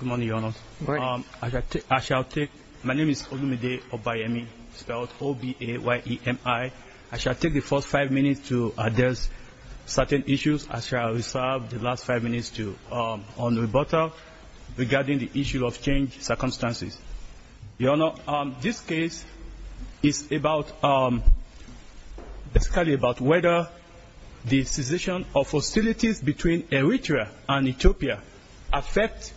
Good morning, Your Honor. My name is Olumide Obayemi, spelled O-B-A-Y-E-M-I. I shall take the first five minutes to address certain issues. I shall reserve the last five minutes to on the rebuttal regarding the issue of change circumstances. Your Honor, this case is about whether the cessation of hostilities between Eritrea and Ethiopia affects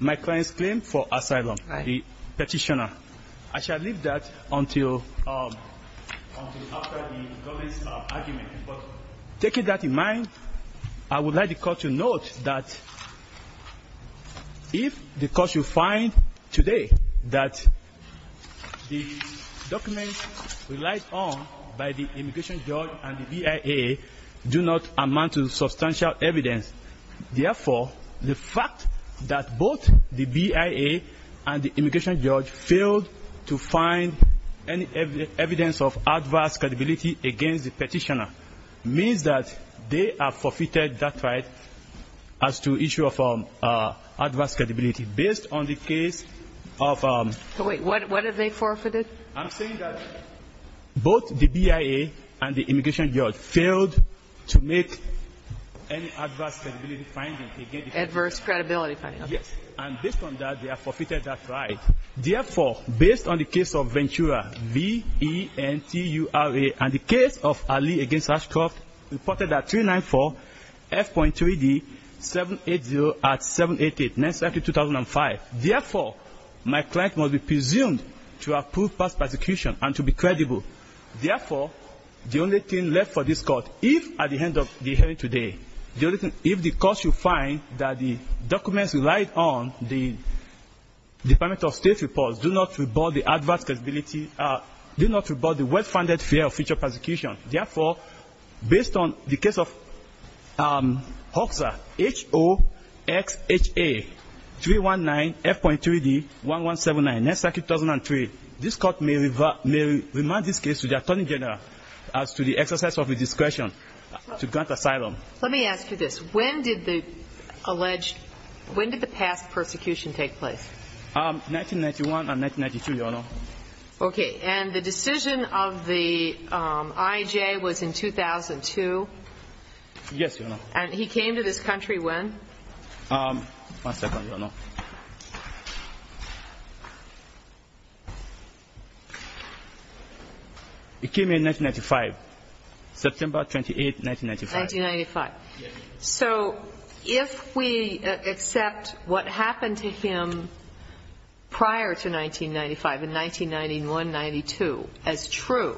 my client's claim for asylum, the petitioner. I shall leave that until after the government's argument. But taking that in mind, I would like the Court to note that if the Court should find today that the documents relied on by the immigration judge and the BIA do not amount to substantial evidence. Therefore, the fact that both the BIA and the immigration judge failed to find any evidence of adverse credibility against the petitioner means that they have forfeited that right. Therefore, based on the case of Ventura, V-E-N-T-U-R-A, and the presumed to approve past persecution and to be credible. Therefore, the only thing left for this Court, if at the end of the hearing today, if the Court should find that the documents relied on the Department of State's reports do not rebut the adverse credibility, do not rebut the well-founded fear of future persecution. Therefore, based on the case of Hoxa, H-O-X-H-A-3-1-9-F.3-D, 1179, 9th Circuit, 2003, this Court may remind this case to the Attorney General as to the exercise of his discretion to grant asylum. Let me ask you this. When did the alleged, when did the past persecution take place? 1991 and 1992, Your Honor. Okay. And the decision of the IJ was in 2002? Yes, Your Honor. And he came to this country when? One second, Your Honor. He came in 1995, September 28th, 1995. 1995. Yes. So if we accept what happened to him prior to 1995, in 1991, 92, as true,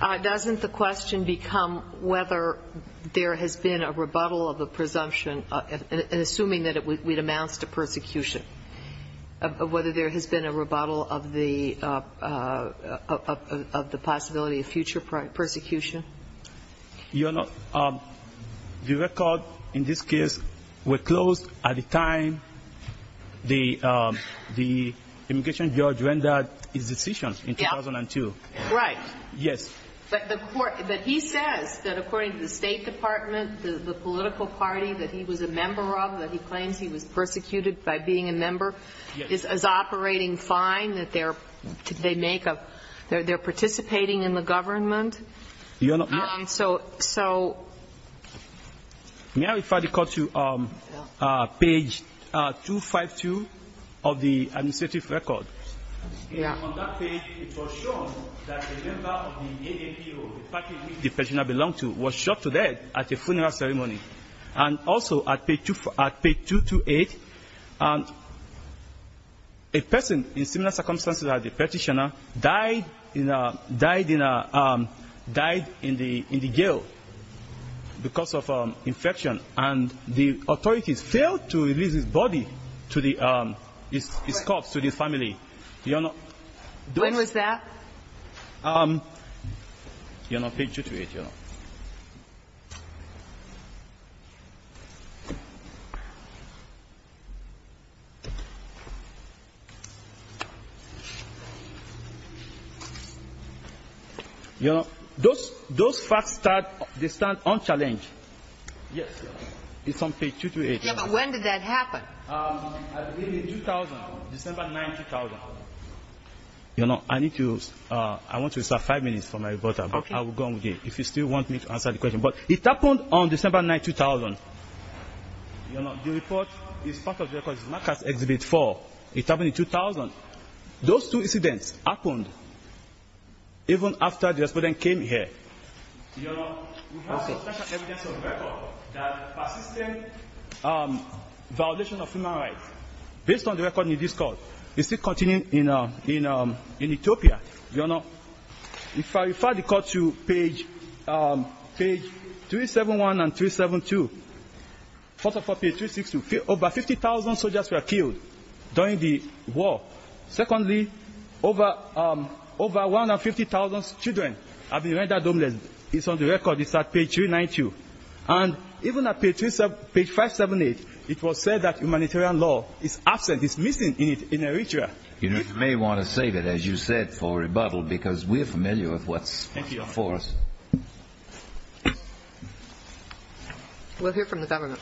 doesn't the question become whether there has been a rebuttal of the presumption, assuming that it amounts to persecution, whether there has been a rebuttal of the possibility of future persecution? Your Honor, the record in this case were closed at the time the immigration judge rendered his decision in 2002. Right. Yes. But he says that according to the State Department, the political party that he was a member of, that he claims he was persecuted by being a member, is operating fine, that they're participating in the government. Your Honor, may I refer the Court to page 252 of the administrative record? Yes. And on that page, it was shown that a member of the ADPO, the party which the petitioner belonged to, was shot to death at a funeral ceremony. And also at page 228, a person in similar circumstances as the petitioner died in the gill because of infection. And the authorities failed to release his body, his corpse, to the family. Your Honor. When was that? Your Honor, page 228, Your Honor. Your Honor, those facts, they stand unchallenged. Yes, Your Honor. It's on page 228, Your Honor. Yeah, but when did that happen? In 2000, December 9, 2000. Your Honor, I need to, I want to reserve five minutes for my report. Okay. I will go on with it, if you still want me to answer the question. But it happened on December 9, 2000. Your Honor, the report is part of the record. It's not just Exhibit 4. It happened in 2000. Those two incidents happened even after the explosion came here. Your Honor, we have substantial evidence of record that persistent violation of human rights based on the record in this court is still continuing in Ethiopia. Your Honor, if I refer the court to page 371 and 372, 44 page 362, over 50,000 soldiers were killed during the war. Secondly, over 150,000 children have been rendered homeless. It's on the record. It's on page 392. And even on page 578, it was said that humanitarian law is absent. It's missing in Eritrea. You may want to save it, as you said, for rebuttal because we're familiar with what's before us. Thank you, Your Honor. We'll hear from the government.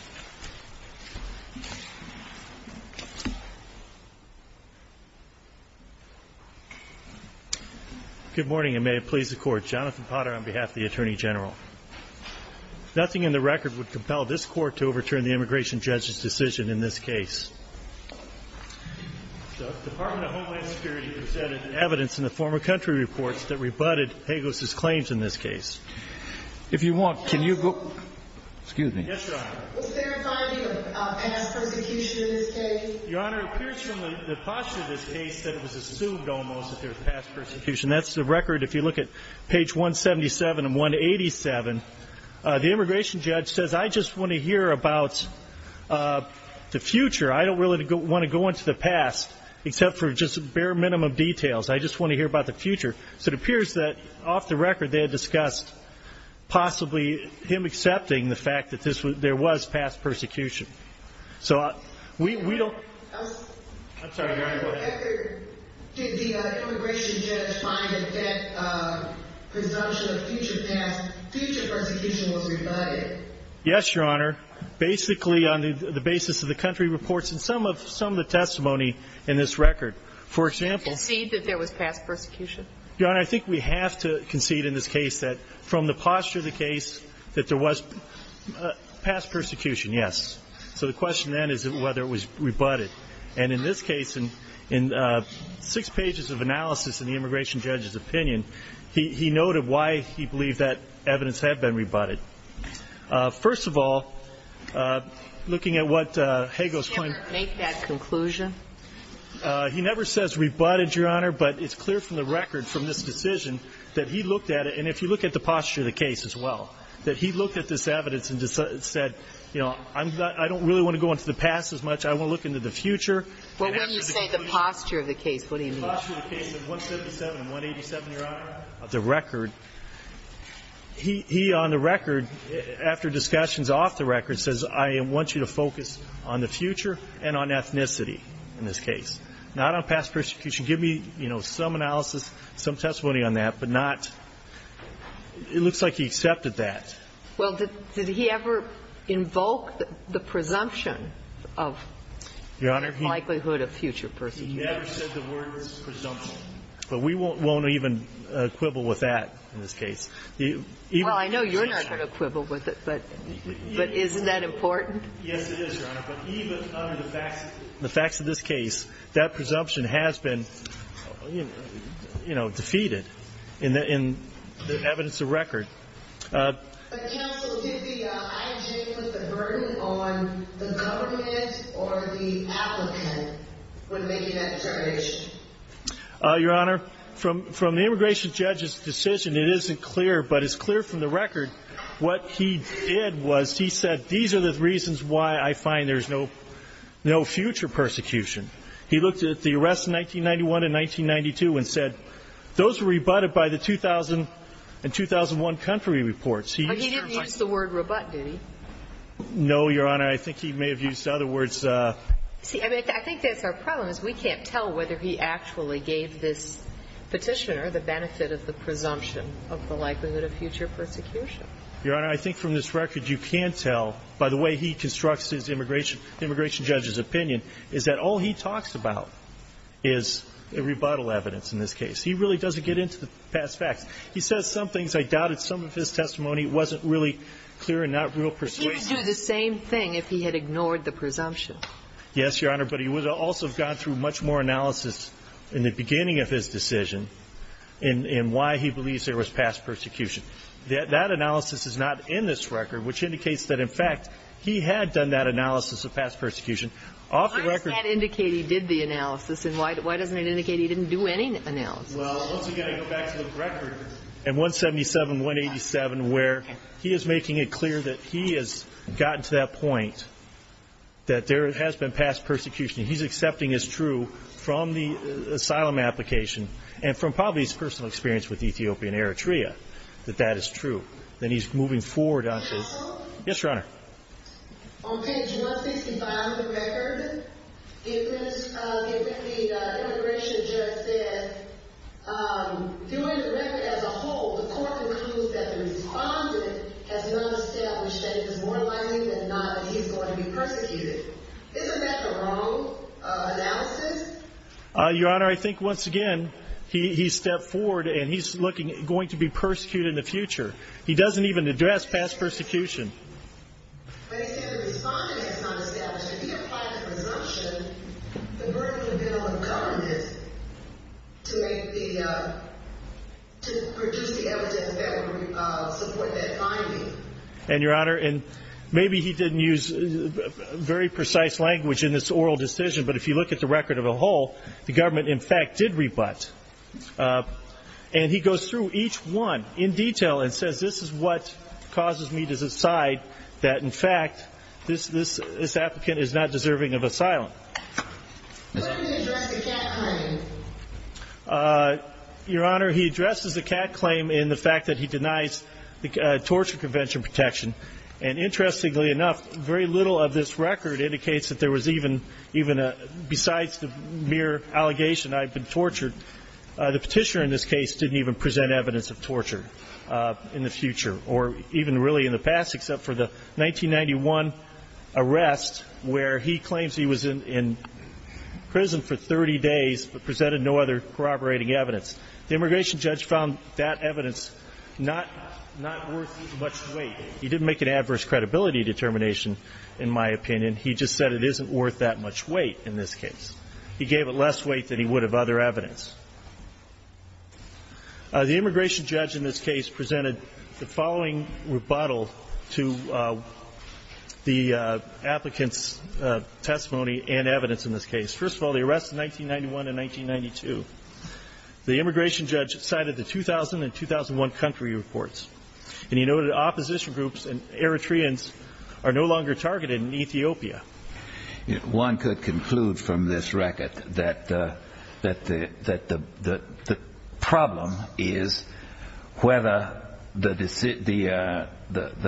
Good morning, and may it please the Court. Jonathan Potter on behalf of the Attorney General. Nothing in the record would compel this Court to overturn the immigration judge's decision in this case. The Department of Homeland Security presented evidence in the former country reports that rebutted Hagos' claims in this case. If you want, can you go? Excuse me. Yes, Your Honor. Was there a finding of mass persecution in this case? Your Honor, it appears from the posture of this case that it was assumed almost that there was mass persecution. That's the record. If you look at page 177 and 187, the immigration judge says, I just want to hear about the future. I don't really want to go into the past except for just bare minimum details. I just want to hear about the future. So it appears that off the record they had discussed possibly him accepting the fact that there was mass persecution. So we don't... I'm sorry, Your Honor, go ahead. Did the immigration judge find that that presumption of future persecution was rebutted? Yes, Your Honor. Basically on the basis of the country reports and some of the testimony in this record. For example... Concede that there was past persecution? Your Honor, I think we have to concede in this case that from the posture of the case that there was past persecution, yes. So the question then is whether it was rebutted. And in this case, in six pages of analysis in the immigration judge's opinion, he noted why he believed that evidence had been rebutted. First of all, looking at what Hagel's claim... Did he ever make that conclusion? He never says rebutted, Your Honor, but it's clear from the record from this decision that he looked at it, and if you look at the posture of the case as well, that he looked at this evidence and said, you know, I don't really want to go into the past as much. I want to look into the future. Well, when you say the posture of the case, what do you mean? The posture of the case in 177 and 187, Your Honor, of the record. He, on the record, after discussions off the record, says I want you to focus on the future and on ethnicity in this case, not on past persecution. Give me, you know, some analysis, some testimony on that, but not... It looks like he accepted that. Well, did he ever invoke the presumption of likelihood of future persecution? He never said the word presumption, but we won't even quibble with that in this case. Well, I know you're not going to quibble with it, but isn't that important? Yes, it is, Your Honor, but even under the facts of this case, that presumption has been, you know, defeated in the evidence of record. Counsel, did the IG put the burden on the government or the applicant when making that determination? Your Honor, from the immigration judge's decision, it isn't clear, but it's clear from the record what he did was he said these are the reasons why I find there's no future persecution. He looked at the arrests in 1991 and 1992 and said those were rebutted by the 2000 and 2001 country reports. But he didn't use the word rebut, did he? No, Your Honor, I think he may have used other words. See, I think that's our problem is we can't tell whether he actually gave this petitioner the benefit of the presumption of the likelihood of future persecution. Your Honor, I think from this record you can tell, by the way he constructs his immigration judge's opinion, is that all he talks about is rebuttal evidence in this case. He really doesn't get into the past facts. He says some things I doubted. Some of his testimony wasn't really clear and not real persuasive. He would do the same thing if he had ignored the presumption. Yes, Your Honor, but he would also have gone through much more analysis in the beginning of his decision in why he believes there was past persecution. That analysis is not in this record, which indicates that, in fact, he had done that analysis of past persecution Why does that indicate he did the analysis? And why doesn't it indicate he didn't do any analysis? Well, once again, I go back to the record in 177-187 where he is making it clear that he has gotten to that point that there has been past persecution. He's accepting as true from the asylum application and from probably his personal experience with Ethiopian Eritrea that that is true. Then he's moving forward on to... Hello? Yes, Your Honor. On page 165 of the record, the immigration judge said during the record as a whole, the court concludes that the respondent has not established that it is more likely than not that he's going to be persecuted. Isn't that the wrong analysis? Your Honor, I think, once again, he's stepped forward and he's going to be persecuted in the future. He doesn't even address past persecution. But he said the respondent has not established it. If he applies the presumption, the burden would be on the government to produce the evidence that would support that finding. And, Your Honor, maybe he didn't use very precise language in this oral decision, but if you look at the record as a whole, the government, in fact, did rebut. And he goes through each one in detail and says, this is what causes me to decide that, in fact, this applicant is not deserving of asylum. Why didn't he address the cat claim? Your Honor, he addresses the cat claim in the fact that he denies the torture convention protection. And, interestingly enough, very little of this record indicates that there was even, besides the mere allegation I've been tortured, the petitioner in this case didn't even present evidence of torture. In the future, or even really in the past, except for the 1991 arrest where he claims he was in prison for 30 days but presented no other corroborating evidence. The immigration judge found that evidence not worth much weight. He didn't make an adverse credibility determination, in my opinion. He just said it isn't worth that much weight in this case. He gave it less weight than he would have other evidence. The immigration judge in this case presented the following rebuttal to the applicant's testimony and evidence in this case. First of all, the arrests of 1991 and 1992. The immigration judge cited the 2000 and 2001 country reports. And he noted opposition groups and Eritreans are no longer targeted in Ethiopia. One could conclude from this record that the problem is whether the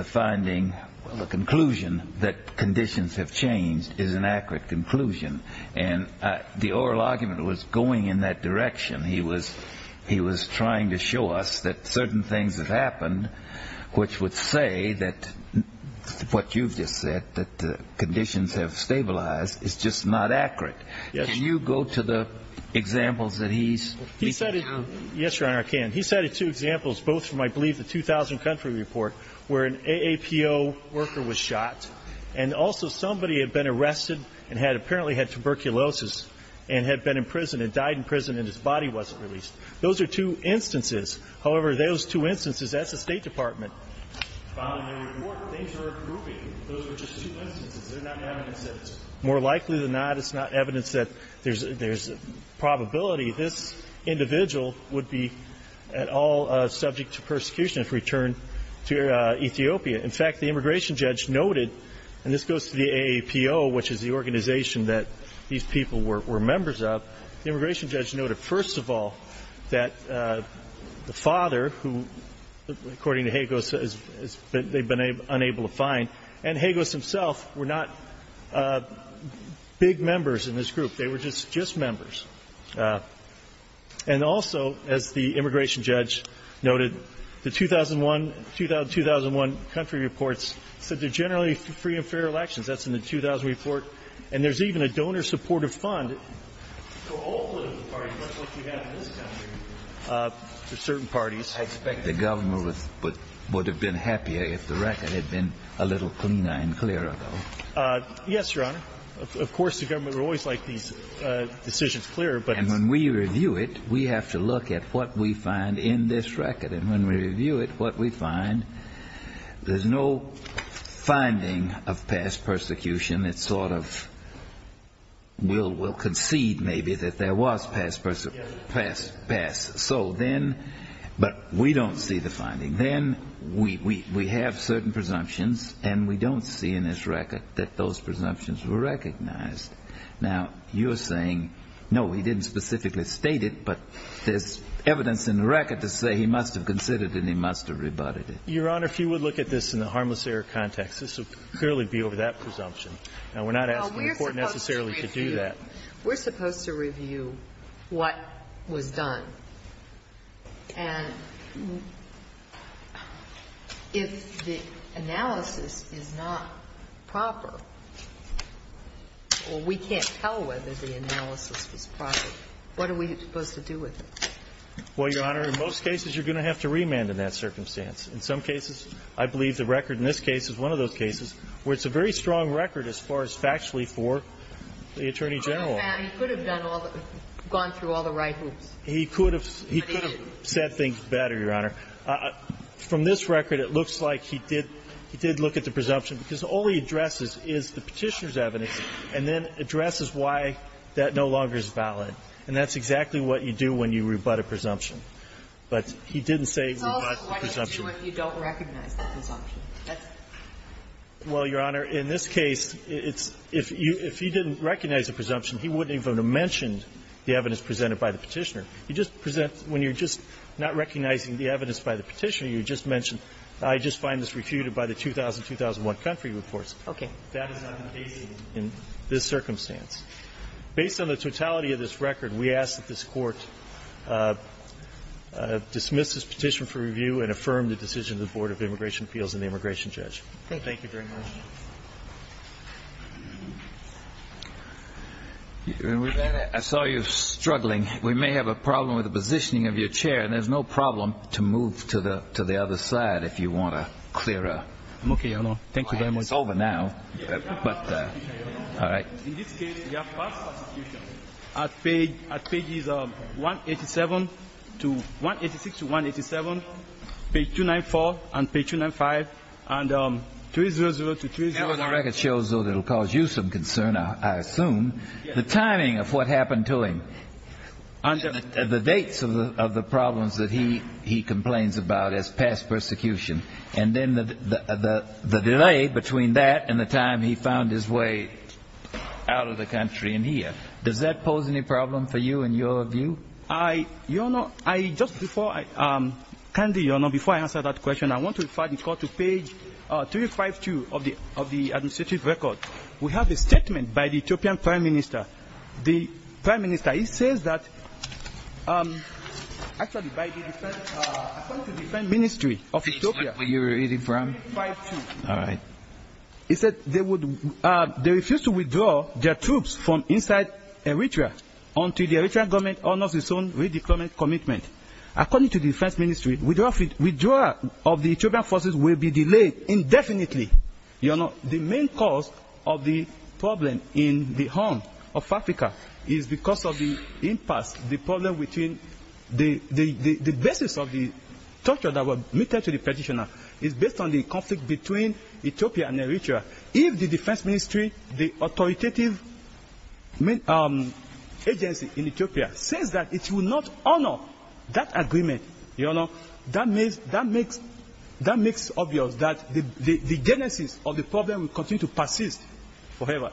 finding, the conclusion that conditions have changed is an accurate conclusion. And the oral argument was going in that direction. He was trying to show us that certain things have happened which would say that what you've just said, that conditions have stabilized is just not accurate. Can you go to the examples that he cited? Yes, Your Honor, I can. He cited two examples, both from, I believe, the 2000 country report where an AAPO worker was shot and also somebody had been arrested and had apparently had tuberculosis and had been in prison and died in prison and his body wasn't released. Those are two instances. However, those two instances, that's the State Department. Following the report, things are improving. Those were just two instances. It's more likely than not, it's not evidence that there's probability this individual would be at all subject to persecution if returned to Ethiopia. In fact, the immigration judge noted and this goes to the AAPO, which is the organization that these people were members of. The immigration judge noted, first of all, that the father, who according to Hagos they've been unable to find and Hagos himself were not big members in this group. They were just members. And also, as the immigration judge noted the 2001 country reports said they're generally free and fair elections. That's in the 2000 report. And there's even a donor supportive fund for certain parties. I expect the government would have been happier if the record had been a little cleaner and clearer. Yes, Your Honor. Of course, the government would always like these decisions clearer. And when we review it, we have to look at what we find in this record. And when we review it, what we find there's no finding of past persecution. It sort of will concede maybe that there was past persecution. But we don't see the finding. Then we have certain presumptions and we don't see in this record that those presumptions were recognized. Now, you're saying, no, he didn't specifically state it but there's evidence in the record to say he must have considered it and he must have rebutted it. Your Honor, if you would look at this in the harmless error context, this would clearly be over that presumption. Now, we're not asking the Court necessarily to do that. We're supposed to review what was done. And if the analysis is not proper or we can't tell whether the analysis was proper, what are we supposed to do with it? Well, Your Honor, in most cases you're going to have to remand in that circumstance. In some cases, I believe the record in this case is one of those cases where it's a very strong record as far as factually for the Attorney General. He could have gone through all the right hoops. He could have said things better, Your Honor. From this record, it looks like he did look at the presumption because all he addresses is the Petitioner's evidence and then addresses why that no longer is valid. And that's exactly what you do when you rebut a presumption. But he didn't say rebut the presumption. So why don't you do it if you don't recognize the presumption? Well, Your Honor, in this case, if you didn't recognize the presumption, he wouldn't even have mentioned the evidence presented by the Petitioner. When you're just not recognizing the evidence by the Petitioner, you just mention, I just find this refuted by the 2000-2001 country reports. Okay. That is not the case in this circumstance. Based on the totality of this record, we ask that this Court dismiss this Petition for Review and affirm the decision of the Board of Immigration Appeals and the Immigration Judge. Thank you very much. I saw you struggling. We may have a problem with the positioning of your chair, and there's no problem to move to the other side if you want a clearer... It's over now. In this case, we have past persecution at pages 186 to 187, page 294 and page 295 and 300 to 309. The record shows, though, that it will cause you some concern, I assume, the timing of what happened to him and the dates of the problems that he complains about as past persecution and then the delay between that and the time he found his way out of the country and here. Does that pose any problem for you in your view? Your Honor, just before I answer that question, I want to refer the Court to page 352 of the administrative record. We have a statement by the Ethiopian Prime Minister. The Prime Minister, he says that... Actually, by the... According to the Defense Ministry of Ethiopia, page 352, they refuse to withdraw their troops from inside Eritrea until the Eritrean government honors its own redeployment commitment. According to the Defense Ministry, withdrawal of the Ethiopian forces will be delayed indefinitely. The main cause of the problem in the home of Africa is because of the impasse, the problem between... The basis of the torture that was meted to the petitioner is based on the conflict between Ethiopia and Eritrea. If the Defense Ministry, the authoritative agency in Ethiopia, says that it will not honor that agreement, that makes obvious that the genesis of the problem will continue to persist forever.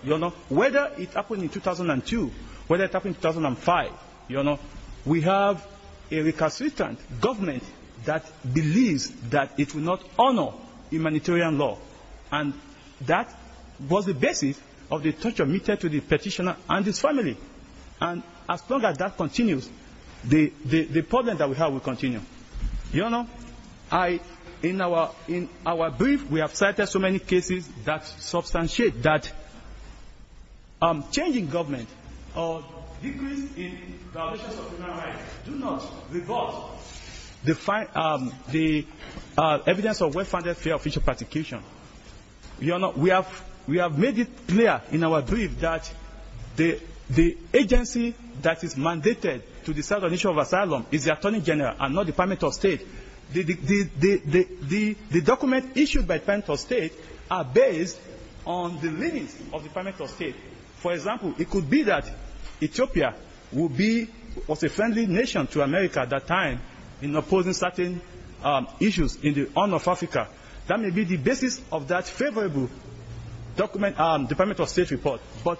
Whether it happened in 2002, whether it happened in 2005, we have a recalcitrant government that believes that it will not honor humanitarian law. That was the basis of the torture meted to the petitioner and his family. As long as that continues, the problem that we have will continue. In our brief, we have cited so many cases that substantiate that change in government or decrease in violations of human rights do not revolt the evidence of well-founded fear of future persecution. We have made it clear in our brief that the agency that is mandated to decide on the issue of asylum is the Attorney General and not the Department of State. The documents issued by the Department of State are based on the leadings of the Department of State. For example, it could be that Ethiopia was a friendly nation to America at that time in opposing certain issues in the honor of Africa. That may be the basis of that favorable Department of State report, but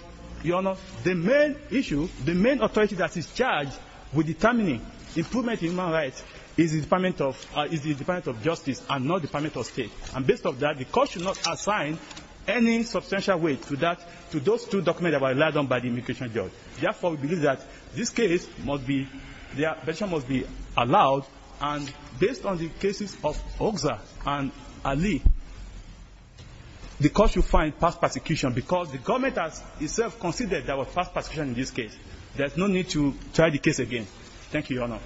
the main authority that is charged with determining improvement in human rights is the Department of Justice and not the Department of State. Based on that, the court should not assign any substantial weight to those two documents that were relied on by the immigration judge. Therefore, we believe that the petition must be allowed and based on the cases of Oga and Ali the court should find past persecution because the government has itself considered there was past persecution in this case. There is no need to try the case again. Thank you, Your Honor.